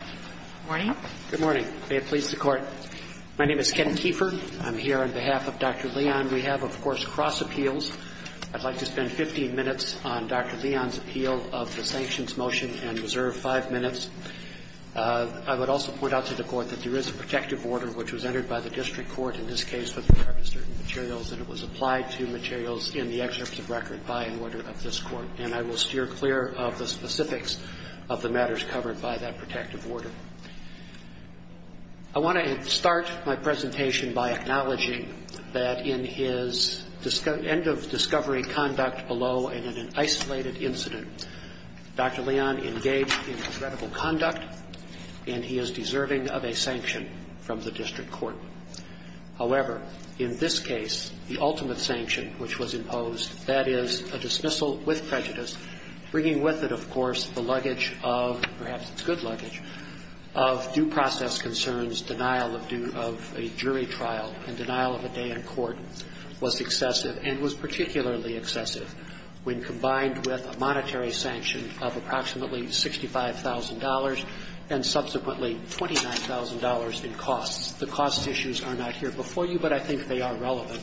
Good morning. Good morning. May it please the Court. My name is Ken Kieffer. I'm here on behalf of Dr. Leon. We have, of course, cross appeals. I'd like to spend 15 minutes on Dr. Leon's appeal of the sanctions motion and reserve five minutes. I would also point out to the Court that there is a protective order which was entered by the district court in this case with regard to certain materials, and it was applied to materials in the excerpt of record by an order of this Court. And I will steer clear of the specifics of the matters covered by that protective order. I want to start my presentation by acknowledging that in his end of discovery conduct below and in an isolated incident, Dr. Leon engaged in regrettable conduct, and he is deserving of a sanction from the district court. However, in this case, the ultimate sanction which was imposed, that is a dismissal with prejudice, bringing with it, of course, the luggage of, perhaps it's good luggage, of due process concerns, denial of due of a jury trial and denial of a day in court was excessive and was particularly excessive when combined with a monetary sanction of approximately $65,000 and subsequently $29,000 in costs. The cost issues are not here before you, but I think they are relevant.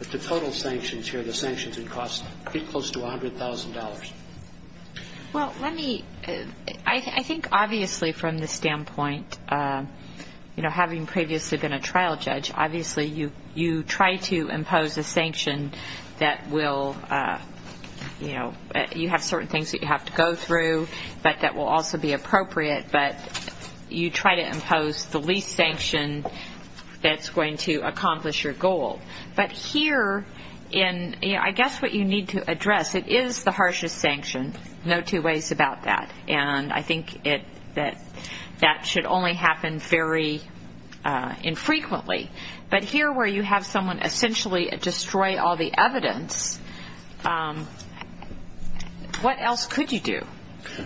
But the total sanctions here, the sanctions would cost pretty close to $100,000. Well, let me, I think obviously from the standpoint, you know, having previously been a trial judge, obviously you try to impose a sanction that will, you know, you have certain things that you have to go through, but that will also be appropriate, but you try to impose the least sanction that's going to accomplish your goal. But here in, you know, I guess what you need to address, it is the harshest sanction, no two ways about that, and I think that that should only happen very infrequently. But here where you have someone essentially destroy all the evidence, what else could you do?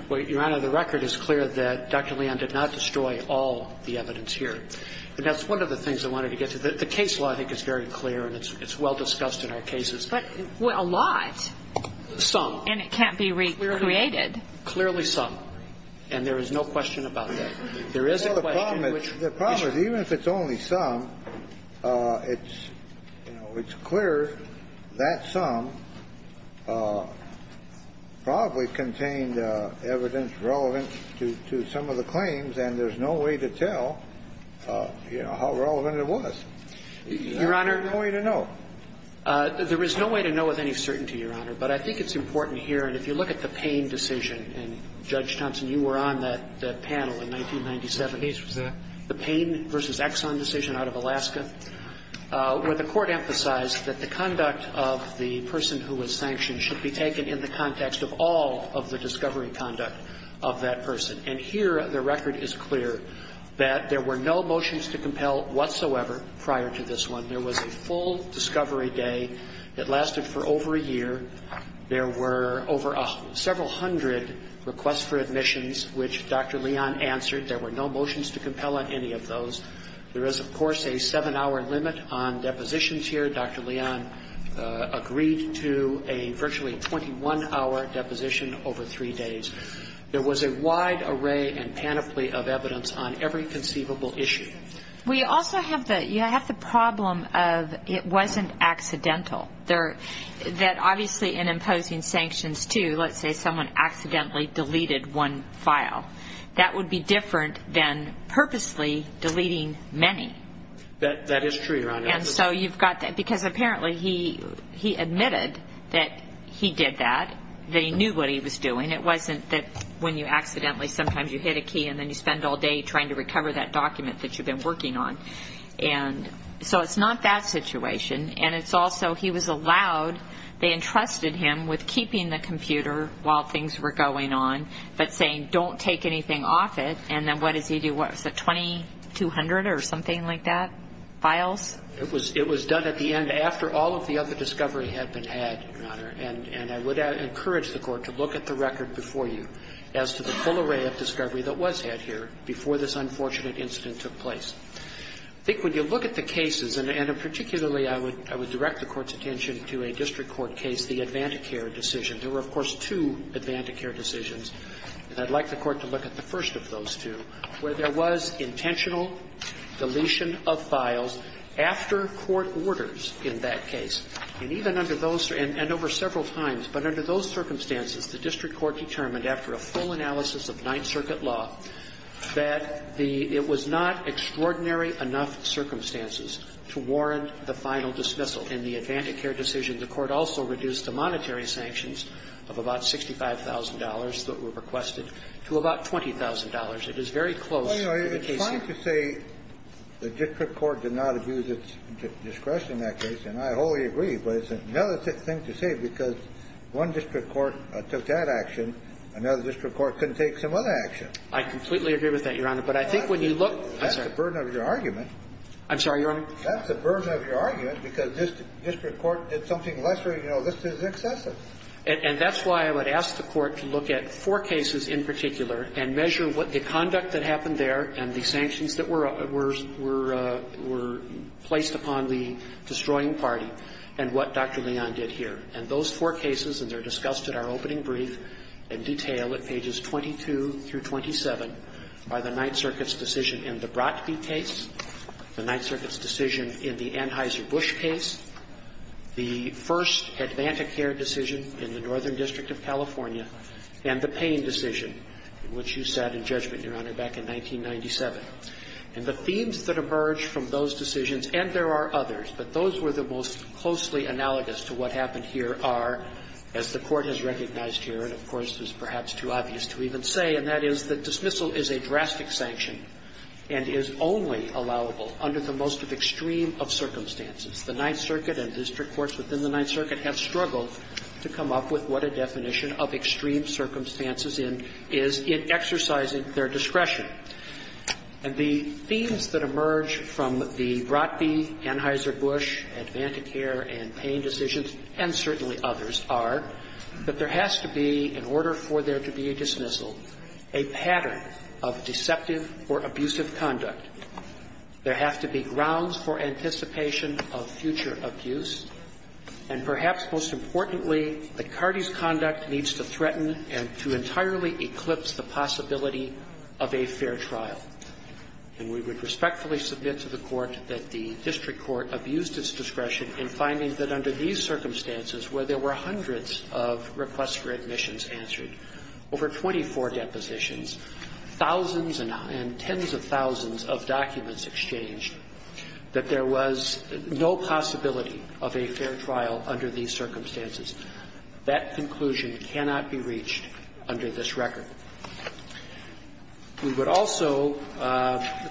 Well, Your Honor, the record is clear that Dr. Leon did not destroy all the evidence here, and that's one of the things I wanted to get to. The case law, I think, is very clear and it's well discussed in our cases. But a lot. Some. And it can't be recreated. Clearly some. There is a question which we should. The problem is even if it's only some, it's, you know, it's clear that some probably contained evidence relevant to some of the claims, and there's no way to tell, you know, how relevant it was. Your Honor. There's no way to know. There is no way to know with any certainty, Your Honor. But I think it's important here, and if you look at the Payne decision, and Judge Payne versus Exxon decision out of Alaska, where the court emphasized that the conduct of the person who was sanctioned should be taken in the context of all of the discovery conduct of that person. And here the record is clear that there were no motions to compel whatsoever prior to this one. There was a full discovery day. It lasted for over a year. There were over several hundred requests for admissions, which Dr. Leon answered. There were no motions to compel on any of those. There is, of course, a seven-hour limit on depositions here. Dr. Leon agreed to a virtually 21-hour deposition over three days. There was a wide array and panoply of evidence on every conceivable issue. We also have the problem of it wasn't accidental. That obviously in imposing sanctions, too, let's say someone accidentally deleted one file, that would be different than purposely deleting many. That is true, Your Honor. And so you've got that because apparently he admitted that he did that. They knew what he was doing. It wasn't that when you accidentally sometimes you hit a key and then you spend all day trying to recover that document that you've been working on. And so it's not that situation. And it's also he was allowed, they entrusted him with keeping the computer while things were going on, but saying don't take anything off it. And then what does he do? Was it 2,200 or something like that, files? It was done at the end after all of the other discovery had been had, Your Honor. And I would encourage the Court to look at the record before you as to the full array of discovery that was had here before this unfortunate incident took place. I think when you look at the cases, and particularly I would direct the Court's attention to a district court case, the AdvantiCare decision. There were, of course, two AdvantiCare decisions, and I'd like the Court to look at the first of those two, where there was intentional deletion of files after court orders in that case. And even under those, and over several times, but under those circumstances, the district court determined after a full analysis of Ninth Circuit law that the – it was not extraordinary enough circumstances to warrant the final dismissal. In the AdvantiCare decision, the Court also reduced the monetary sanctions of about $65,000 that were requested to about $20,000. It is very close to the case here. It's fine to say the district court did not abuse its discretion in that case, and I wholly agree. But it's another thing to say, because one district court took that action. Another district court couldn't take some other action. I completely agree with that, Your Honor. But I think when you look – That's the burden of your argument. I'm sorry, Your Honor. That's the burden of your argument, because this district court did something less or, you know, this is excessive. And that's why I would ask the Court to look at four cases in particular and measure what the conduct that happened there and the sanctions that were – were placed upon the destroying party and what Dr. Leon did here. And those four cases, and they're discussed at our opening brief in detail at pages 22 through 27 by the Ninth Circuit's decision in the Bratki case, the Ninth Circuit's decision in the Anheuser-Busch case, the first AdvantiCare decision in the Northern District of California, and the Payne decision, which you sat in judgment, Your Honor, back in 1997. And the themes that emerge from those decisions, and there are others, but those were the most closely analogous to what happened here are, as the Court has recognized here, and of course it's perhaps too obvious to even say, and that is that dismissal is a drastic sanction and is only allowable under the most extreme of circumstances. The Ninth Circuit and district courts within the Ninth Circuit have struggled to come up with what a definition of extreme circumstances is in exercising their discretion. And the themes that emerge from the Bratki, Anheuser-Busch, AdvantiCare, and Payne decisions, and certainly others, are that there has to be, in order for there to be dismissal, a pattern of deceptive or abusive conduct. There has to be grounds for anticipation of future abuse. And perhaps most importantly, that Cardi's conduct needs to threaten and to entirely eclipse the possibility of a fair trial. And we would respectfully submit to the Court that the district court abused its discretion in finding that under these circumstances, where there were hundreds of requests for admissions answered, over 24 depositions, thousands and tens of thousands of documents exchanged, that there was no possibility of a fair trial under these circumstances. That conclusion cannot be reached under this record. We would also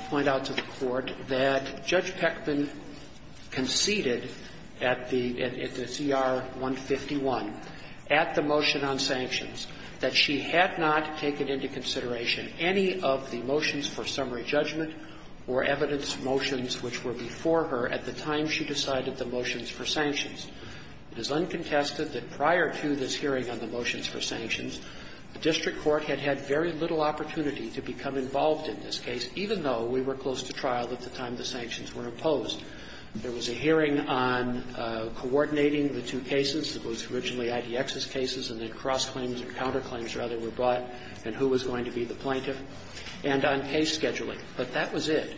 point out to the Court that Judge Peckman conceded at the CR-151 at the motion on sanctions that she had not taken into consideration any of the motions for summary judgment or evidence motions which were before her at the time she decided the motions for sanctions. It is uncontested that prior to this hearing on the motions for sanctions, the district court had had very little opportunity to become involved in this case, even though we were close to trial at the time the sanctions were imposed. There was a hearing on coordinating the two cases. It was originally IDX's cases, and then cross-claims or counter-claims, rather, were brought, and who was going to be the plaintiff, and on case scheduling. But that was it.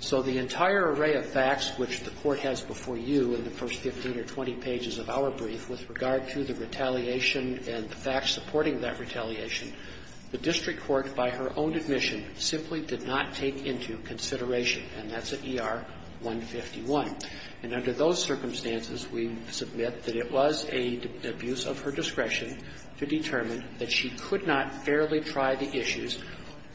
So the entire array of facts which the Court has before you in the first 15 or 20 pages of our brief with regard to the retaliation and the facts supporting that retaliation, the district court, by her own admission, simply did not take into consideration And that's at ER-151. And under those circumstances, we submit that it was an abuse of her discretion to determine that she could not fairly try the issues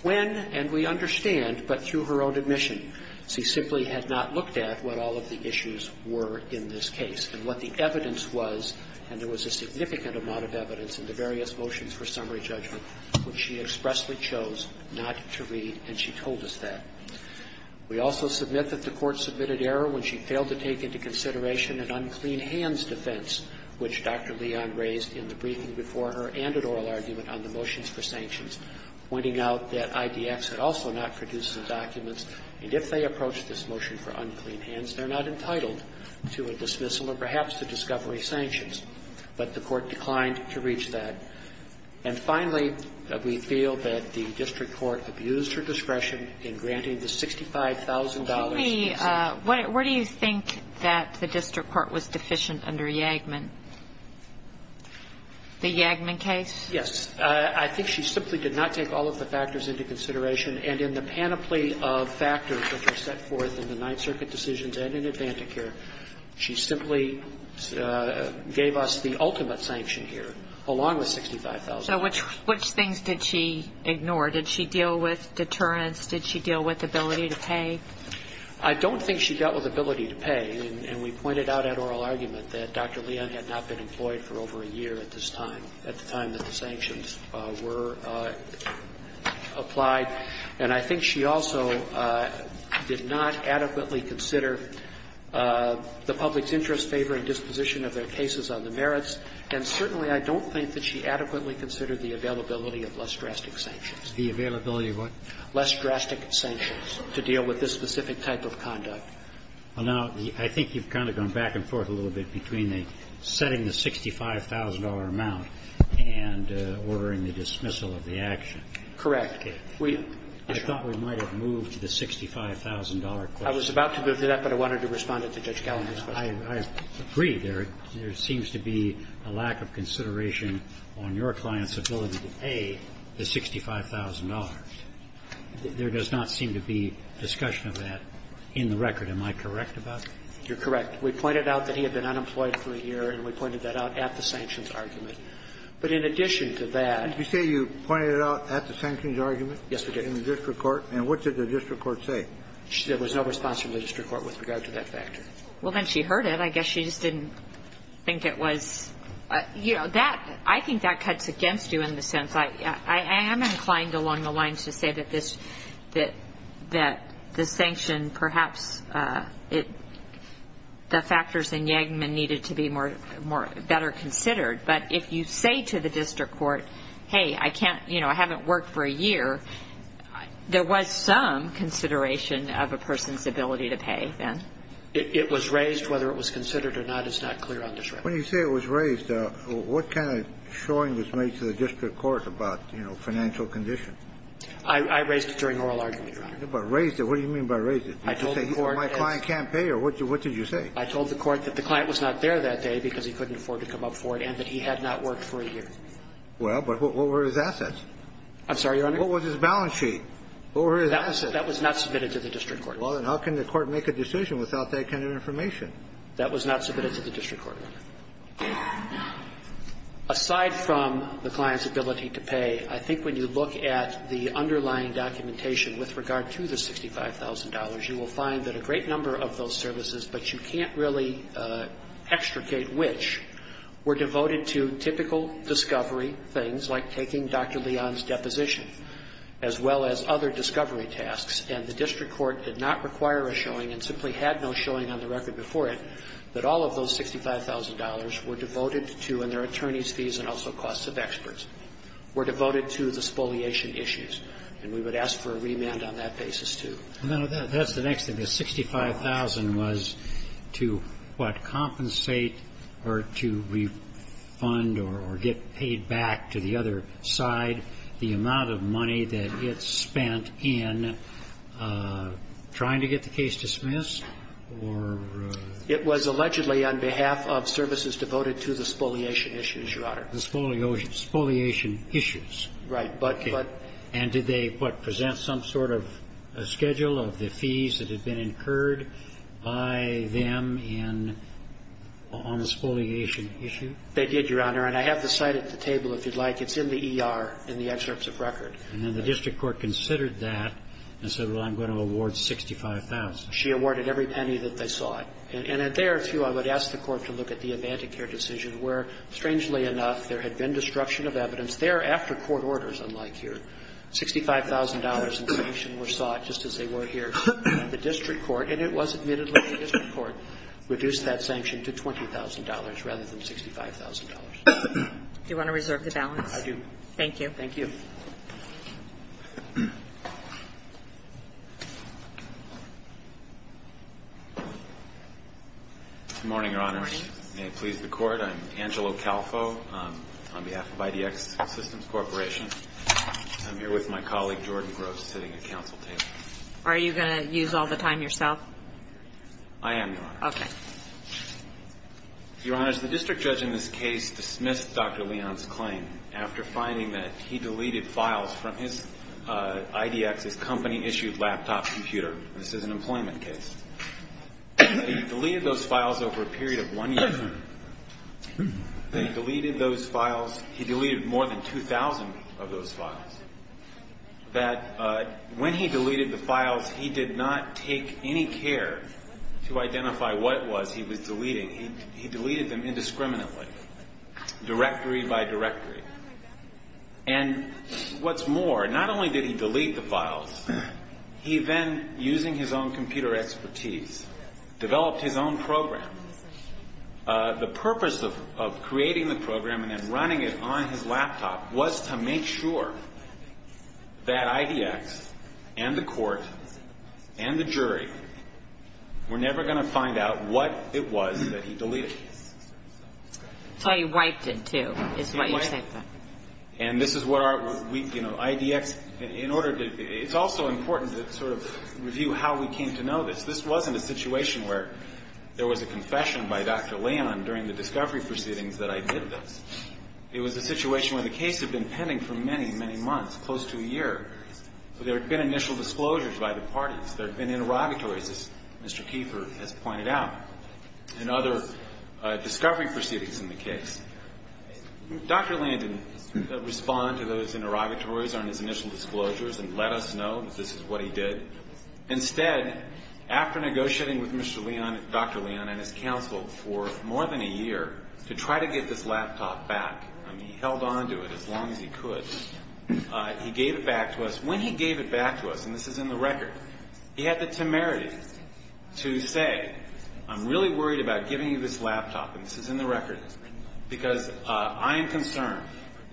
when, and we understand, but through her own admission, she simply had not looked at what all of the issues were in this case. And what the evidence was, and there was a significant amount of evidence in the various motions for summary judgment, which she expressly chose not to read, and she told us that. We also submit that the Court submitted error when she failed to take into consideration an unclean hands defense, which Dr. Leon raised in the briefing before her and an oral argument on the motions for sanctions, pointing out that IDX had also not produced the documents, and if they approach this motion for unclean hands, they're not entitled to a dismissal or perhaps to discovery sanctions. But the Court declined to reach that. And finally, we feel that the district court abused her discretion in granting the $65,000. Kagan. Where do you think that the district court was deficient under Yagman? The Yagman case? Yes. I think she simply did not take all of the factors into consideration. And in the panoply of factors that were set forth in the Ninth Circuit decisions and in AdvantiCare, she simply gave us the ultimate sanction here, along with sanctions and $65,000. So which things did she ignore? Did she deal with deterrence? Did she deal with ability to pay? I don't think she dealt with ability to pay. And we pointed out at oral argument that Dr. Leon had not been employed for over a year at this time, at the time that the sanctions were applied. And I think she also did not adequately consider the public's interest, favoring disposition of their cases on the merits. And certainly, I don't think that she adequately considered the availability of less drastic sanctions. The availability of what? Less drastic sanctions to deal with this specific type of conduct. Well, now, I think you've kind of gone back and forth a little bit between the setting the $65,000 amount and ordering the dismissal of the action. Correct. I thought we might have moved to the $65,000 question. I was about to move to that, but I wanted to respond to Judge Gallagher's I agree. There seems to be a lack of consideration on your client's ability to pay the $65,000. There does not seem to be discussion of that in the record. Am I correct about that? You're correct. We pointed out that he had been unemployed for a year, and we pointed that out at the sanctions argument. But in addition to that You say you pointed it out at the sanctions argument? Yes, we did. In the district court. And what did the district court say? There was no response from the district court with regard to that factor. Well, then she heard it. I guess she just didn't think it was I think that cuts against you in the sense I am inclined along the lines to say that the sanctions perhaps the factors in Yangman needed to be better considered. But if you say to the district court, hey, I haven't worked for a year, there was some consideration of a person's ability to pay then. It was raised. Whether it was considered or not is not clear on this record. When you say it was raised, what kind of showing was made to the district court about, you know, financial conditions? I raised it during oral argument, Your Honor. But raised it. What do you mean by raised it? Or my client can't pay? Or what did you say? I told the court that the client was not there that day because he couldn't afford to come up for it and that he had not worked for a year. Well, but what were his assets? I'm sorry, Your Honor? What was his balance sheet? What were his assets? That was not submitted to the district court. Well, then how can the court make a decision without that kind of information? That was not submitted to the district court. Aside from the client's ability to pay, I think when you look at the underlying documentation with regard to the $65,000, you will find that a great number of those services, but you can't really extricate which, were devoted to typical discovery things, like taking Dr. Leon's deposition, as well as other discovery tasks. And the district court did not require a showing, and simply had no showing on the record before it, that all of those $65,000 were devoted to, in their attorney's fees and also costs of experts, were devoted to the spoliation issues. And we would ask for a remand on that basis, too. That's the next thing. The $65,000 was to, what, compensate or to refund or get paid back to the other side the amount of money that gets spent in trying to get the case dismissed or? It was allegedly on behalf of services devoted to the spoliation issues, Your Honor. The spoliation issues. Right. And did they, what, present some sort of schedule of the fees that had been incurred by them in the spoliation issue? They did, Your Honor. And I have the site at the table, if you'd like. It's in the ER, in the excerpts of record. And then the district court considered that and said, well, I'm going to award $65,000. She awarded every penny that they sought. And there, too, I would ask the court to look at the AvantiCare decision, where, strangely enough, there had been destruction of evidence thereafter court orders, unlike here. $65,000 in sanctions were sought, just as they were here. The district court, and it was admittedly the district court, reduced that sanction to $20,000 rather than $65,000. Do you want to reserve the balance? I do. Thank you. Thank you. Good morning, Your Honors. Good morning. May it please the court, I'm Angelo Calfo on behalf of IDX Systems Corporation. I'm here with my colleague, Jordan Gross, sitting at counsel table. Are you going to use all the time yourself? I am, Your Honor. Okay. Your Honors, the district judge in this case dismissed Dr. Leon's claim after finding that he deleted files from his IDX's company-issued laptop computer. This is an employment case. He deleted those files over a period of one year. He deleted those files. He deleted more than 2,000 of those files. When he deleted the files, he did not take any care to identify what it was he was deleting. He deleted them indiscriminately, directory by directory. And what's more, not only did he delete the files, he then, using his own computer expertise, developed his own program. The purpose of creating the program and then running it on his laptop was to make sure that IDX and the court and the jury were never going to find out what it was that he deleted. So he wiped it, too, is what you're saying? He wiped it. And this is what our, you know, IDX, in order to, it's also important to sort of review how we came to know this. This wasn't a situation where there was a confession by Dr. Leon during the discovery proceedings that I did this. It was a situation where the case had been pending for many, many months, close to a year. So there had been initial disclosures by the parties. There had been interrogatories, as Mr. Kiefer has pointed out, and other discovery proceedings in the case. Dr. Leon didn't respond to those interrogatories on his initial disclosures and let us know that this is what he did. Instead, after negotiating with Dr. Leon and his counsel for more than a year to try to get this laptop back, and he held onto it as long as he could, he gave it back to us. And this is in the record. He had the temerity to say, I'm really worried about giving you this laptop, and this is in the record, because I am concerned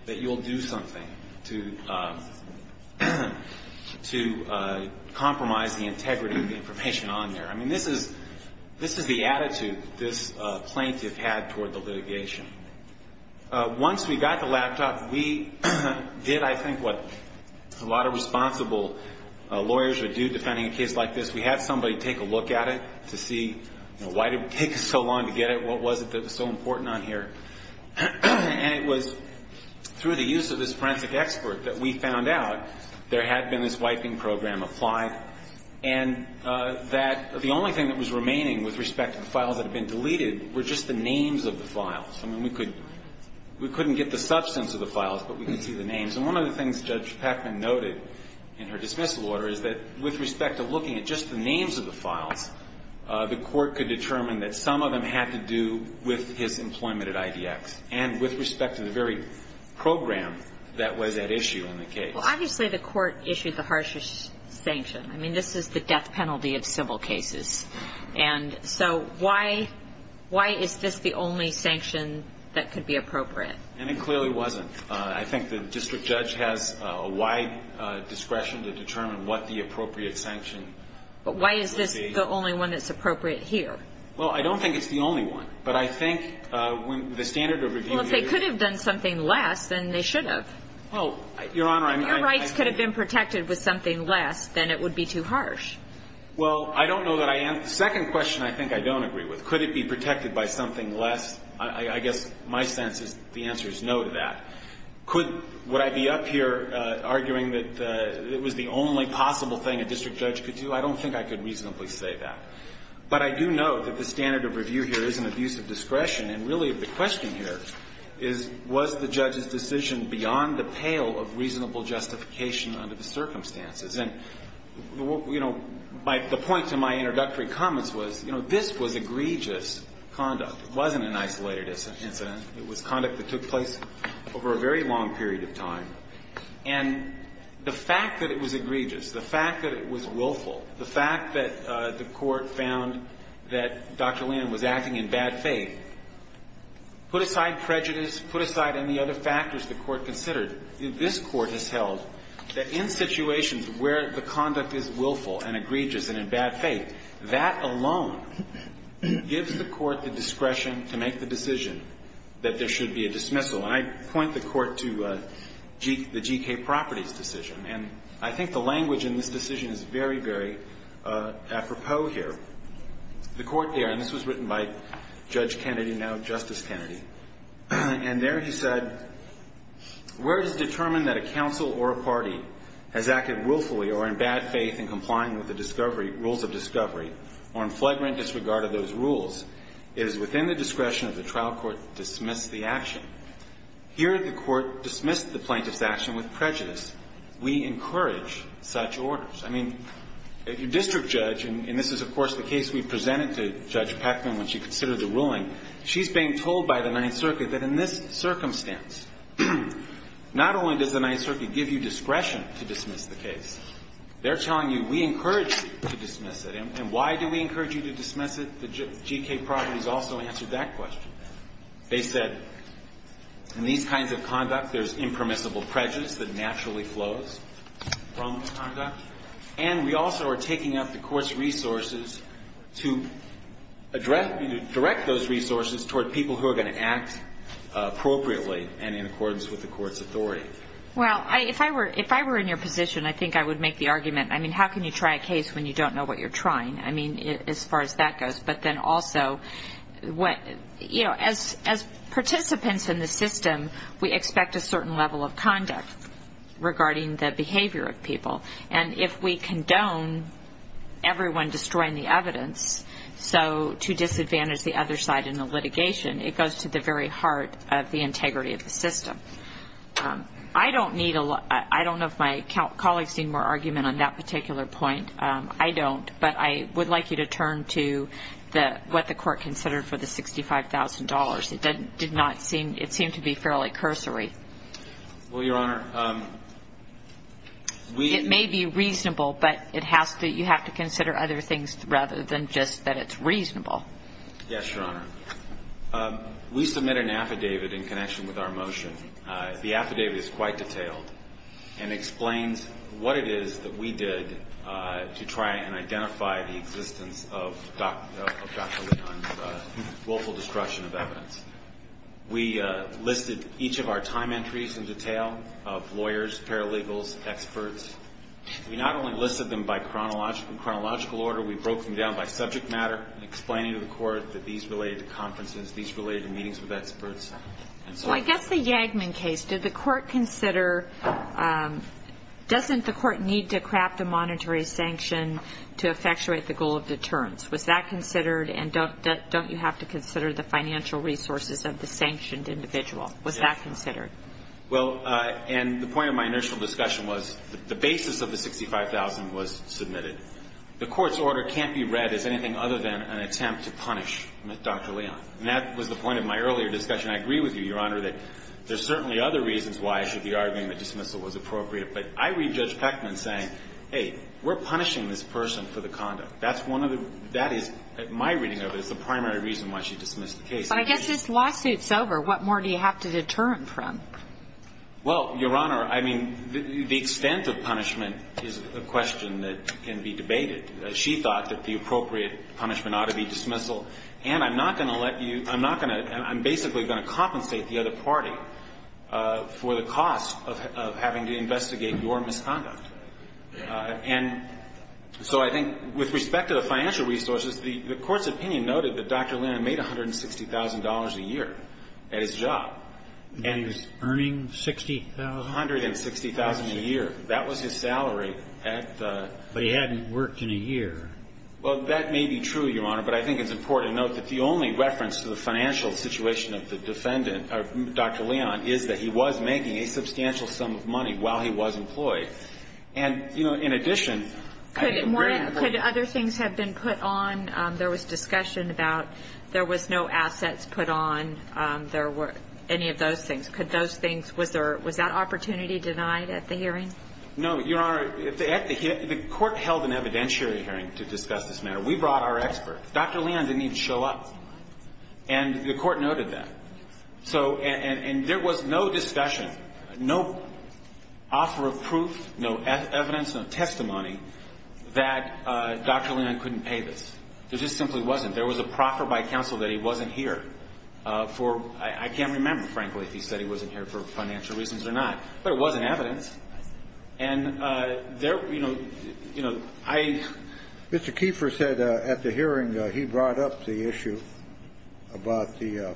that you'll do something to compromise the integrity of the information on there. I mean, this is the attitude this plaintiff had toward the litigation. Once we got the laptop, we did, I think, what a lot of responsible lawyers would do defending a case like this. We had somebody take a look at it to see, you know, why did it take us so long to get it? What was it that was so important on here? And it was through the use of this forensic expert that we found out there had been this wiping program applied and that the only thing that was remaining with respect to the files that had been deleted were just the names of the files. I mean, we couldn't get the substance of the files, but we could see the names. And one of the things Judge Peckman noted in her dismissal order is that with respect to looking at just the names of the files, the court could determine that some of them had to do with his employment at IDX and with respect to the very program that was at issue in the case. Well, obviously the court issued the harshest sanction. I mean, this is the death penalty of civil cases. And so why is this the only sanction that could be appropriate? And it clearly wasn't. I think the district judge has a wide discretion to determine what the appropriate sanction would be. But why is this the only one that's appropriate here? Well, I don't think it's the only one. But I think when the standard of review here is the same. Well, if they could have done something less, then they should have. Well, Your Honor, I mean, I think you're right. If your rights could have been protected with something less, then it would be too harsh. Well, I don't know that I am. The second question I think I don't agree with. Could it be protected by something less? I guess my sense is the answer is no to that. Could – would I be up here arguing that it was the only possible thing a district judge could do? I don't think I could reasonably say that. But I do note that the standard of review here is an abuse of discretion. And really the question here is, was the judge's decision beyond the pale of reasonable justification under the circumstances? And, you know, the point to my introductory comments was, you know, this was egregious conduct. It wasn't an isolated incident. It was conduct that took place over a very long period of time. And the fact that it was egregious, the fact that it was willful, the fact that the Court found that Dr. Lynn was acting in bad faith, put aside prejudice, put aside any other factors the Court considered, this Court has held that in situations where the conduct is willful and egregious and in bad faith, that alone gives the Court the discretion to make the decision that there should be a dismissal. And I point the Court to the G.K. Properties decision. And I think the language in this decision is very, very apropos here. The Court there – and this was written by Judge Kennedy, now Justice Kennedy – and there he said, Where it is determined that a counsel or a party has acted willfully or in bad faith in complying with the rules of discovery, or in flagrant disregard of those rules, it is within the discretion of the trial court to dismiss the action. Here the Court dismissed the plaintiff's action with prejudice. We encourage such orders. I mean, a district judge – and this is, of course, the case we presented to Judge that in this circumstance, not only does the Ninth Circuit give you discretion to dismiss the case, they're telling you, we encourage you to dismiss it. And why do we encourage you to dismiss it? The G.K. Properties also answered that question. They said, in these kinds of conduct, there's impermissible prejudice that naturally flows from the conduct. And we also are taking out the Court's resources to address – to direct those resources toward people who are going to act appropriately and in accordance with the Court's authority. Well, if I were in your position, I think I would make the argument, I mean, how can you try a case when you don't know what you're trying? I mean, as far as that goes. But then also, you know, as participants in the system, we expect a certain level of conduct regarding the behavior of people. And if we condone everyone destroying the evidence, so to disadvantage the other side in the litigation, it goes to the very heart of the integrity of the system. I don't need a lot – I don't know if my colleagues need more argument on that particular point. I don't. But I would like you to turn to what the Court considered for the $65,000. It did not seem – it seemed to be fairly cursory. Well, Your Honor, we – It may be reasonable, but it has to – you have to consider other things rather than just that it's reasonable. Yes, Your Honor. We submitted an affidavit in connection with our motion. The affidavit is quite detailed and explains what it is that we did to try and identify the existence of Dr. Levin's willful destruction of evidence. We listed each of our time entries in detail of lawyers, paralegals, experts. We not only listed them by chronological order, we broke them down by subject matter, explaining to the Court that these related to conferences, these related to meetings with experts, and so forth. Well, I guess the Yagman case, did the Court consider – doesn't the Court need to craft a monetary sanction to effectuate the goal of deterrence? Was that considered? And don't you have to consider the financial resources of the sanctioned individual? Was that considered? Well, and the point of my initial discussion was the basis of the 65,000 was submitted. The Court's order can't be read as anything other than an attempt to punish Dr. Leon. And that was the point of my earlier discussion. I agree with you, Your Honor, that there's certainly other reasons why I should be arguing that dismissal was appropriate. But I read Judge Peckman saying, hey, we're punishing this person for the conduct. That's one of the – that is, in my reading of it, is the primary reason why she dismissed the case. I guess this lawsuit's over. What more do you have to deter him from? Well, Your Honor, I mean, the extent of punishment is a question that can be debated. She thought that the appropriate punishment ought to be dismissal. And I'm not going to let you – I'm not going to – I'm basically going to compensate the other party for the cost of having to investigate your misconduct. And so I think with respect to the financial resources, the Court's opinion noted that Dr. Leon made $160,000 a year at his job. And he's earning $60,000? $160,000 a year. That was his salary at the – But he hadn't worked in a year. Well, that may be true, Your Honor. But I think it's important to note that the only reference to the financial situation of the defendant, of Dr. Leon, is that he was making a substantial sum of money while he was employed. And, you know, in addition – Could other things have been put on? There was discussion about there was no assets put on. There were – any of those things. Could those things – was there – was that opportunity denied at the hearing? No, Your Honor. The Court held an evidentiary hearing to discuss this matter. We brought our experts. Dr. Leon didn't even show up. And the Court noted that. So – and there was no discussion, no offer of proof, no evidence, no testimony that Dr. Leon couldn't pay this. There just simply wasn't. There was a proffer by counsel that he wasn't here for – I can't remember, frankly, if he said he wasn't here for financial reasons or not. But it was in evidence. And there – you know, I – Mr. Keefer said at the hearing he brought up the issue about the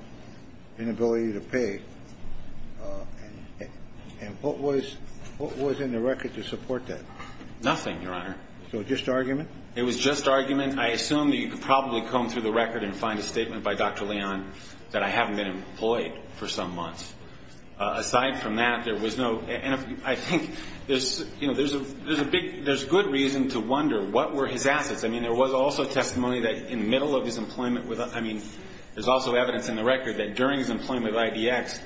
inability to pay. And what was in the record to support that? Nothing, Your Honor. So just argument? It was just argument. I assume that you could probably comb through the record and find a statement by Dr. Leon that I haven't been employed for some months. Aside from that, there was no – and I think there's – you know, there's a big – there's good reason to wonder what were his assets. I mean, there was also testimony that in the middle of his employment with – I mean, there's also evidence in the record that during his employment with IDX,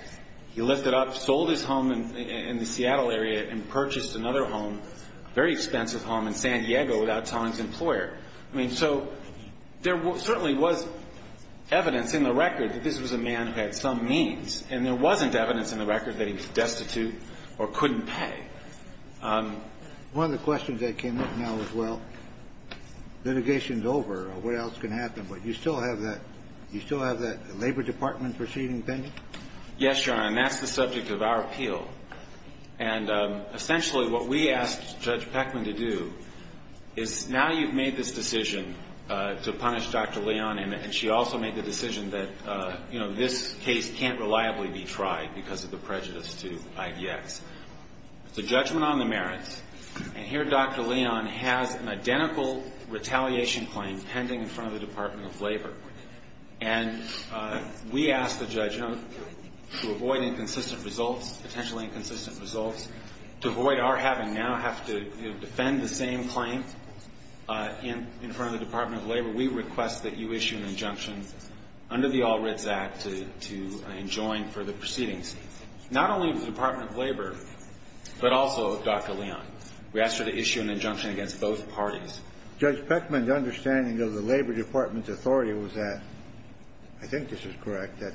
he lifted up, sold his home in the Seattle area and purchased another home, a very expensive home in San Diego, without telling his employer. I mean, so there certainly was evidence in the record that this was a man who had some means. And there wasn't evidence in the record that he was destitute or couldn't pay. One of the questions that came up now as well, litigation is over. What else can happen? But you still have that – you still have that Labor Department proceeding opinion? Yes, Your Honor, and that's the subject of our appeal. And essentially what we asked Judge Peckman to do is now you've made this decision to punish Dr. Leon, and she also made the decision that, you know, this case can't reliably be tried because of the prejudice to IDX. It's a judgment on the merits. And here Dr. Leon has an identical retaliation claim pending in front of the Department of Labor. And we asked the judge, you know, to avoid inconsistent results, potentially inconsistent results, to avoid our having now have to defend the same claim in front of the Department of Labor. We request that you issue an injunction under the All Writs Act to enjoin further proceedings, not only of the Department of Labor, but also of Dr. Leon. We asked her to issue an injunction against both parties. Judge Peckman, the understanding of the Labor Department's authority was that – I think this is correct – that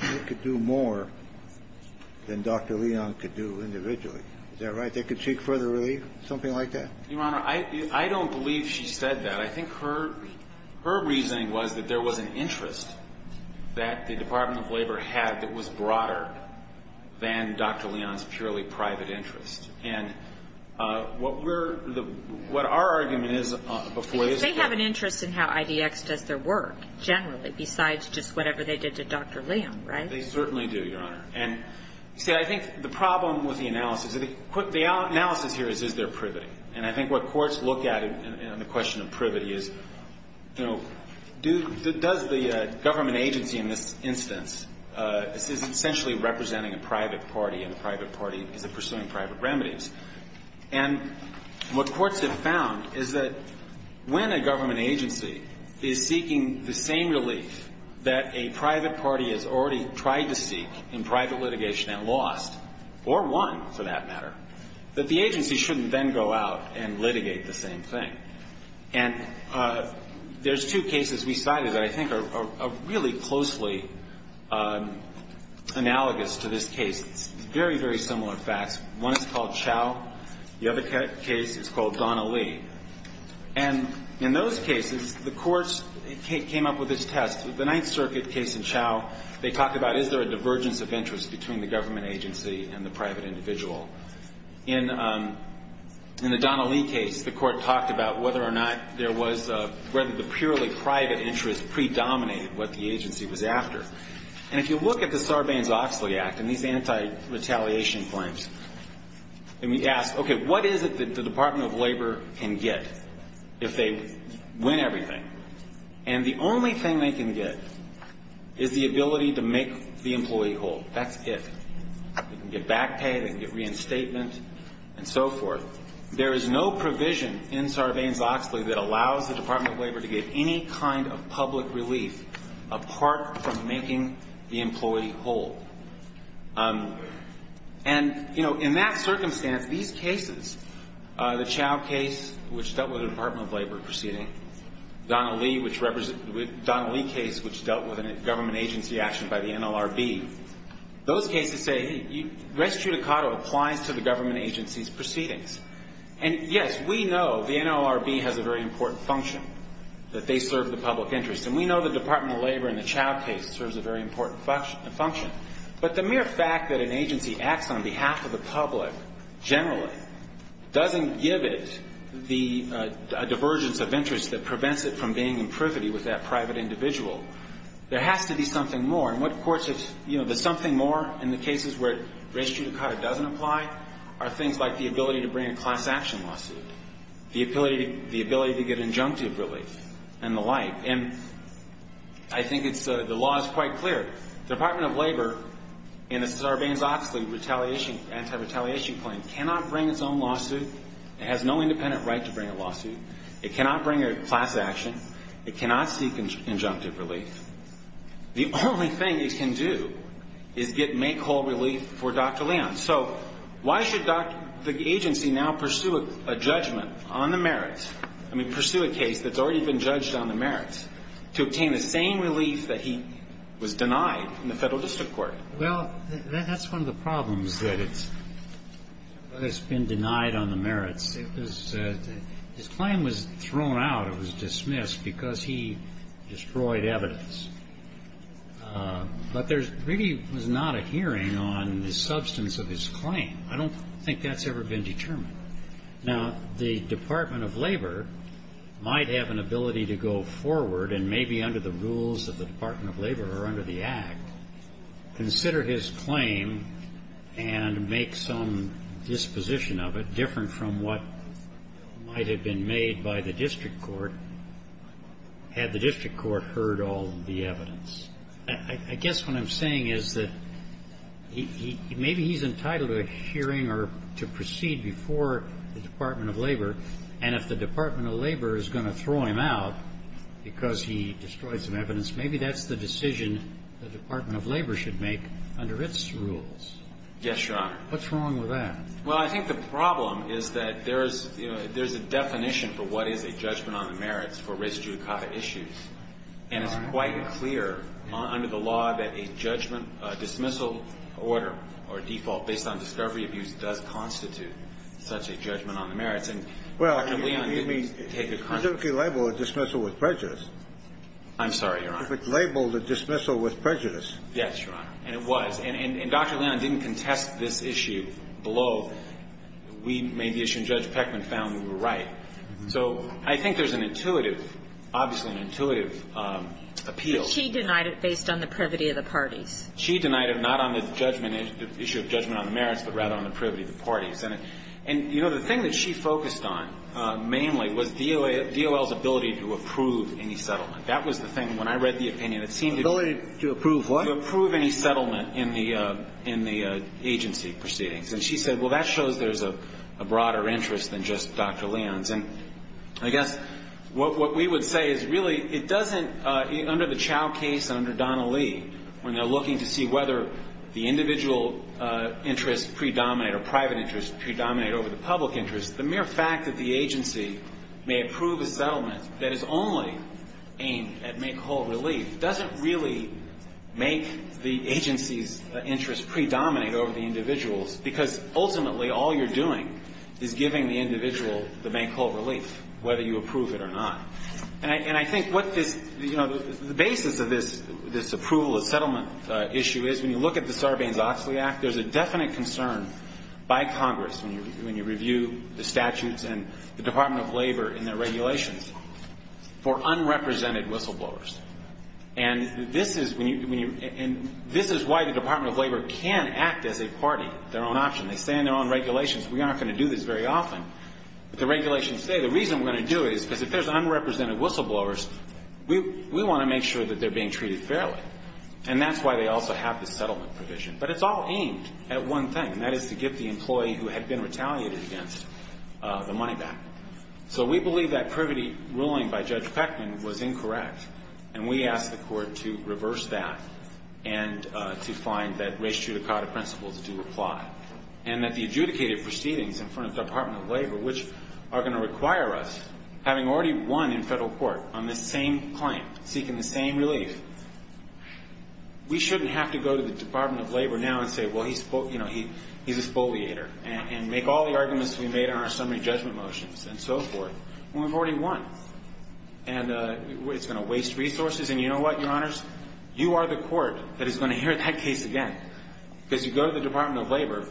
they could do more than Dr. Leon could do individually. Is that right? They could seek further relief? Something like that? Your Honor, I don't believe she said that. I think her reasoning was that there was an interest that the Department of Labor had that was broader than Dr. Leon's purely private interest. And what we're – what our argument is before this Court – Because they have an interest in how IDX does their work, generally, besides just whatever they did to Dr. Leon, right? They certainly do, Your Honor. And, you see, I think the problem with the analysis – the analysis here is, is there privity? And I think what courts look at in the question of privity is, you know, does the government agency in this instance essentially representing a private party, and the private party is pursuing private remedies? And what courts have found is that when a government agency is seeking the same relief that a private party has already tried to seek in private litigation and lost, or won, for that matter, that the agency shouldn't then go out and litigate the same thing. And there's two cases we cited that I think are really closely analogous to this case. It's very, very similar facts. One is called Chau. The other case is called Donnelly. And in those cases, the courts came up with this test. The Ninth Circuit case in Chau, they talked about, is there a divergence of interest between the government agency and the private individual? In the Donnelly case, the court talked about whether or not there was a – whether the purely private interest predominated what the agency was after. And if you look at the Sarbanes-Oxley Act and these anti-retaliation claims, and we ask, okay, what is it that the Department of Labor can get if they win everything? And the only thing they can get is the ability to make the employee whole. That's it. They can get back pay. They can get reinstatement and so forth. There is no provision in Sarbanes-Oxley that allows the Department of Labor to get any kind of public relief apart from making the employee whole. And, you know, in that circumstance, these cases, the Chau case, which dealt with a Department of Labor proceeding, Donnelly case, which dealt with a government agency action by the NLRB, those cases say res judicato applies to the government agency's proceedings. And, yes, we know the NLRB has a very important function, that they serve the public interest. And we know the Department of Labor in the Chau case serves a very important function. But the mere fact that an agency acts on behalf of the public generally doesn't give it the divergence of interest that prevents it from being in privity with that private individual. There has to be something more. And what courts have, you know, there's something more in the cases where res judicato doesn't apply are things like the ability to bring a class action lawsuit, the ability to get injunctive relief, and the like. And I think it's the law is quite clear. The Department of Labor in the Sarbanes-Oxley retaliation, anti-retaliation claim cannot bring its own lawsuit. It has no independent right to bring a lawsuit. It cannot bring a class action. It cannot seek injunctive relief. The only thing it can do is make whole relief for Dr. Leon. So why should the agency now pursue a judgment on the merits, I mean pursue a case that's already been judged on the merits, to obtain the same relief that he was denied in the Federal District Court? Well, that's one of the problems that it's been denied on the merits. His claim was thrown out. It was dismissed because he destroyed evidence. But there really was not a hearing on the substance of his claim. I don't think that's ever been determined. Now, the Department of Labor might have an ability to go forward and maybe under the rules of the Department of Labor or under the Act consider his claim and make some disposition of it that's different from what might have been made by the district court had the district court heard all the evidence. I guess what I'm saying is that maybe he's entitled to a hearing or to proceed before the Department of Labor, and if the Department of Labor is going to throw him out because he destroyed some evidence, maybe that's the decision the Department of Labor should make under its rules. Yes, Your Honor. What's wrong with that? Well, I think the problem is that there's a definition for what is a judgment on the merits for race judicata issues. And it's quite clear under the law that a judgment, a dismissal order or a default based on discovery abuse does constitute such a judgment on the merits. And Dr. Leon didn't take it kindly. Well, he didn't label a dismissal with prejudice. I'm sorry, Your Honor. If it labeled a dismissal with prejudice. Yes, Your Honor. And it was. And Dr. Leon didn't contest this issue below. We made the issue, and Judge Peckman found we were right. So I think there's an intuitive, obviously an intuitive, appeal. But she denied it based on the privity of the parties. She denied it not on the judgment, the issue of judgment on the merits, but rather on the privity of the parties. And, you know, the thing that she focused on mainly was DOL's ability to approve any settlement. That was the thing when I read the opinion. Ability to approve what? Ability to approve any settlement in the agency proceedings. And she said, well, that shows there's a broader interest than just Dr. Leon's. And I guess what we would say is really it doesn't, under the Chow case and under Donnelly, when they're looking to see whether the individual interests predominate or private interests predominate over the public interests, the mere fact that the agency may approve a settlement that is only aimed at make-whole relief doesn't really make the agency's interests predominate over the individual's, because ultimately all you're doing is giving the individual the make-whole relief, whether you approve it or not. And I think what this, you know, the basis of this approval of settlement issue is, when you look at the Sarbanes-Oxley Act, there's a definite concern by Congress when you review the statutes and the Department of Labor in their regulations for unrepresented whistleblowers. And this is why the Department of Labor can act as a party, their own option. They say in their own regulations we aren't going to do this very often. But the regulations say the reason we're going to do it is because if there's unrepresented whistleblowers, we want to make sure that they're being treated fairly. And that's why they also have the settlement provision. But it's all aimed at one thing, and that is to get the employee who had been retaliated against the money back. So we believe that Privety ruling by Judge Peckman was incorrect, and we ask the Court to reverse that and to find that res judicata principles do apply, and that the adjudicated proceedings in front of the Department of Labor, which are going to require us, having already won in federal court on this same claim, seeking the same relief, we shouldn't have to go to the Department of Labor now and say, well, he's a spoliator, and make all the arguments we made on our summary judgment motions and so forth when we've already won. And it's going to waste resources. And you know what, Your Honors? You are the court that is going to hear that case again. Because if you go to the Department of Labor,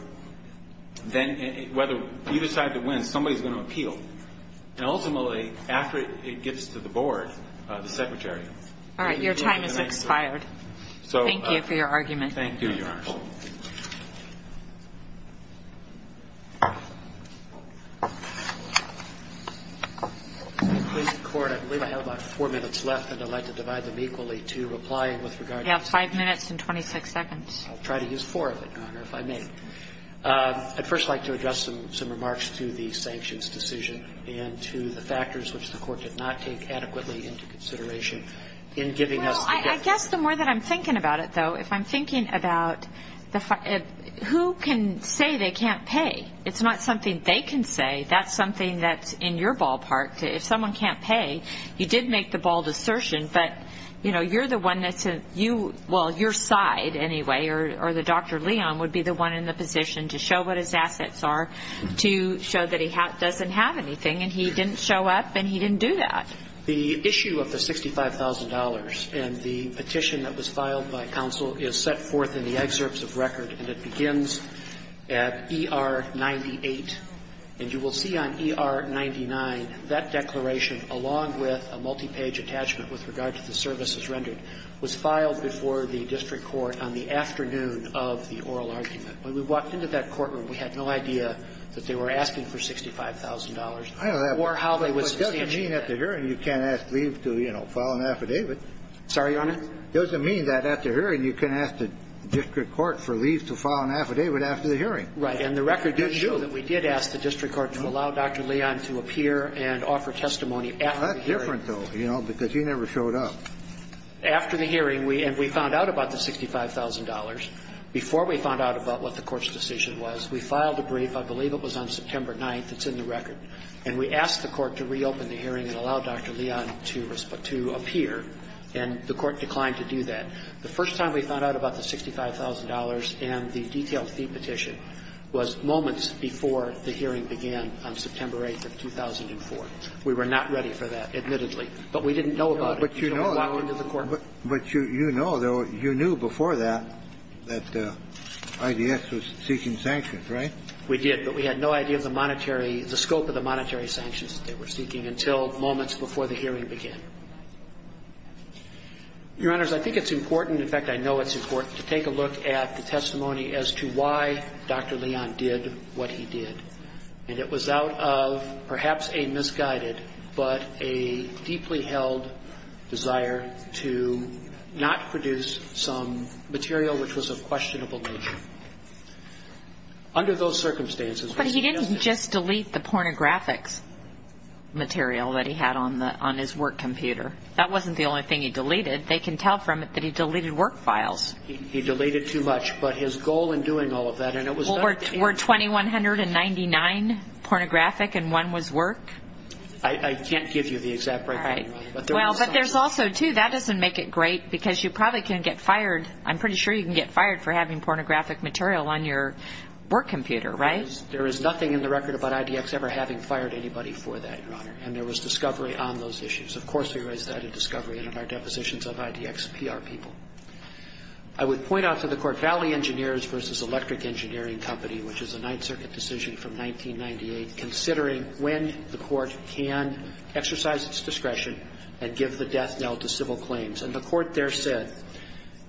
then whether you decide to win, somebody is going to appeal. And ultimately, after it gets to the board, the secretary. All right. Your time has expired. Thank you for your argument. Thank you, Your Honors. I believe I have about four minutes left, and I'd like to divide them equally to reply with regard to the five minutes and 26 seconds. I'll try to use four of it, Your Honor, if I may. I'd first like to address some remarks to the sanctions decision and to the factors which the Court did not take adequately into consideration in giving us the difference. Well, I guess the more that I'm thinking about it, though, if I'm thinking about who can say they can't pay. It's not something they can say. That's something that's in your ballpark. If someone can't pay, you did make the bold assertion, but you're the one that's a – well, your side, anyway, or Dr. Leon would be the one in the position to show what his assets are, to show that he doesn't have anything. And he didn't show up, and he didn't do that. The issue of the $65,000 and the petition that was filed by counsel is set forth in the excerpts of record, and it begins at ER 98. And you will see on ER 99 that declaration, along with a multi-page attachment with regard to the services rendered, was filed before the district court on the afternoon of the oral argument. When we walked into that courtroom, we had no idea that they were asking for $65,000 or how they would substantiate that. It doesn't mean at the hearing you can't ask Lee to, you know, file an affidavit. Sorry, Your Honor? It doesn't mean that at the hearing you can't ask the district court for Lee to file an affidavit after the hearing. Right, and the record did show that we did ask the district court to allow Dr. Leon to appear and offer testimony after the hearing. That's different, though, you know, because he never showed up. After the hearing, and we found out about the $65,000, before we found out about what the court's decision was, we filed a brief, I believe it was on September 9th. It's in the record. And we asked the court to reopen the hearing and allow Dr. Leon to appear, and the court declined to do that. The first time we found out about the $65,000 and the detailed fee petition was moments before the hearing began on September 8th of 2004. We were not ready for that, admittedly. But we didn't know about it until we walked into the courtroom. But you know, though, you knew before that, that IDS was seeking sanctions, right? We did, but we had no idea of the monetary, the scope of the monetary sanctions that they were seeking until moments before the hearing began. Your Honors, I think it's important, in fact, I know it's important, to take a look at the testimony as to why Dr. Leon did what he did. And it was out of perhaps a misguided, but a deeply held desire to not produce some material which was of questionable nature. Under those circumstances, what he did was- But he didn't just delete the pornographic material that he had on his work computer. That wasn't the only thing he deleted. They can tell from it that he deleted work files. He deleted too much. But his goal in doing all of that, and it was- Were 2,199 pornographic and one was work? I can't give you the exact breakdown. All right. Well, but there's also, too, that doesn't make it great because you probably can get fired. I'm pretty sure you can get fired for having pornographic material on your work computer, right? There is nothing in the record about IDX ever having fired anybody for that, Your Honor. And there was discovery on those issues. Of course, we raised that in discovery and in our depositions of IDX PR people. I would point out to the Court, Valley Engineers v. Electric Engineering Company, which is a Ninth Circuit decision from 1998, considering when the Court can exercise its discretion and give the death knell to civil claims. And the Court there said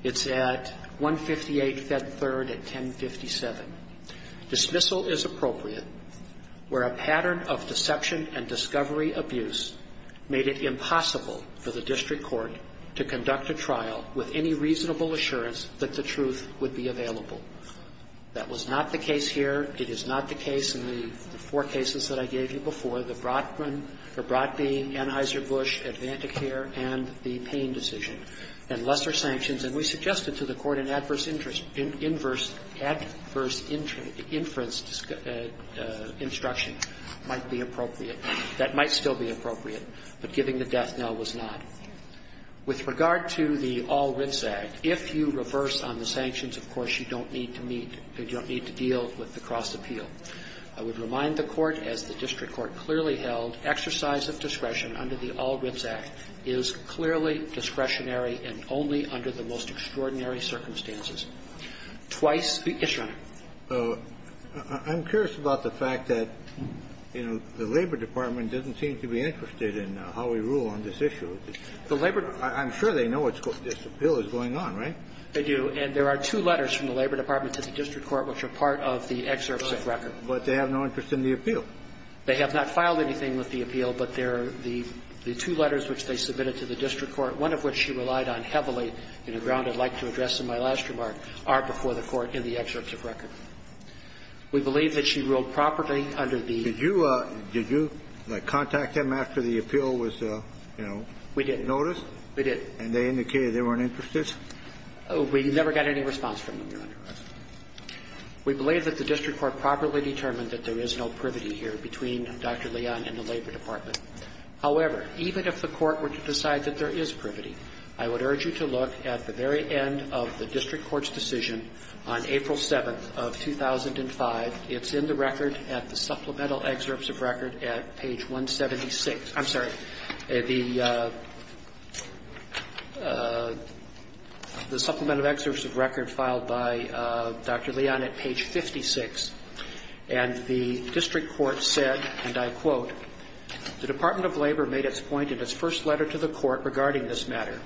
it's at 158 Fed Third at 1057. Dismissal is appropriate where a pattern of deception and discovery abuse made it impossible for the district court to conduct a trial with any reasonable assurance that the truth would be available. That was not the case here. It is not the case in the four cases that I gave you before, the Brodman or Brodby, Anheuser-Busch, AdvantiCare, and the Payne decision. And lesser sanctions. And we suggested to the Court an adverse interest – adverse inference instruction might be appropriate. That might still be appropriate. But giving the death knell was not. With regard to the All Writs Act, if you reverse on the sanctions, of course, you don't need to meet – you don't need to deal with the cross-appeal. I would remind the Court, as the district court clearly held, exercise of discretion under the All Writs Act is clearly discretionary and only under the most extraordinary circumstances. Twice – yes, Your Honor. I'm curious about the fact that, you know, the Labor Department doesn't seem to be interested in how we rule on this issue. The Labor – I'm sure they know this appeal is going on, right? They do. And there are two letters from the Labor Department to the district court which are part of the excerpts of record. Right. But they have no interest in the appeal. They have not filed anything with the appeal, but there are the two letters which they submitted to the district court, one of which she relied on heavily in a ground I'd like to address in my last remark, are before the Court in the excerpts of record. We believe that she ruled properly under the – Did you – did you contact them after the appeal was, you know, noticed? We did. We did. And they indicated they weren't interested? We never got any response from them, Your Honor. We believe that the district court properly determined that there is no privity here between Dr. Leon and the Labor Department. However, even if the court were to decide that there is privity, I would urge you to look at the very end of the district court's decision on April 7th of 2005. It's in the record at the supplemental excerpts of record at page 176. I'm sorry. The supplemental excerpts of record filed by Dr. Leon at page 56. And the district court said, and I quote, the Department of Labor made its point in its first letter to the court regarding this matter,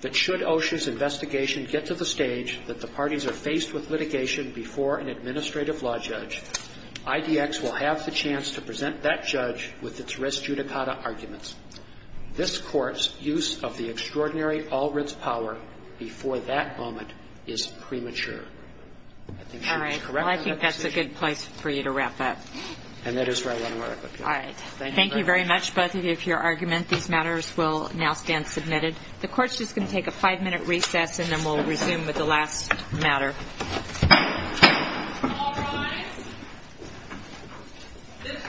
that should OSHA's investigation get to the stage that the parties are faced with litigation before an administrative law judge, IDX will have the chance to present that judge with its res judicata arguments. This court's use of the extraordinary all-writs power before that moment is premature. I think she was correct in that decision. All right. Well, I think that's a good place for you to wrap up. And that is where I want to wrap up, Your Honor. All right. Thank you very much, both of you, for your argument. These matters will now stand submitted. The court's just going to take a five-minute recess, and then we'll resume with the last matter. All rise. This court stands to recess for five minutes.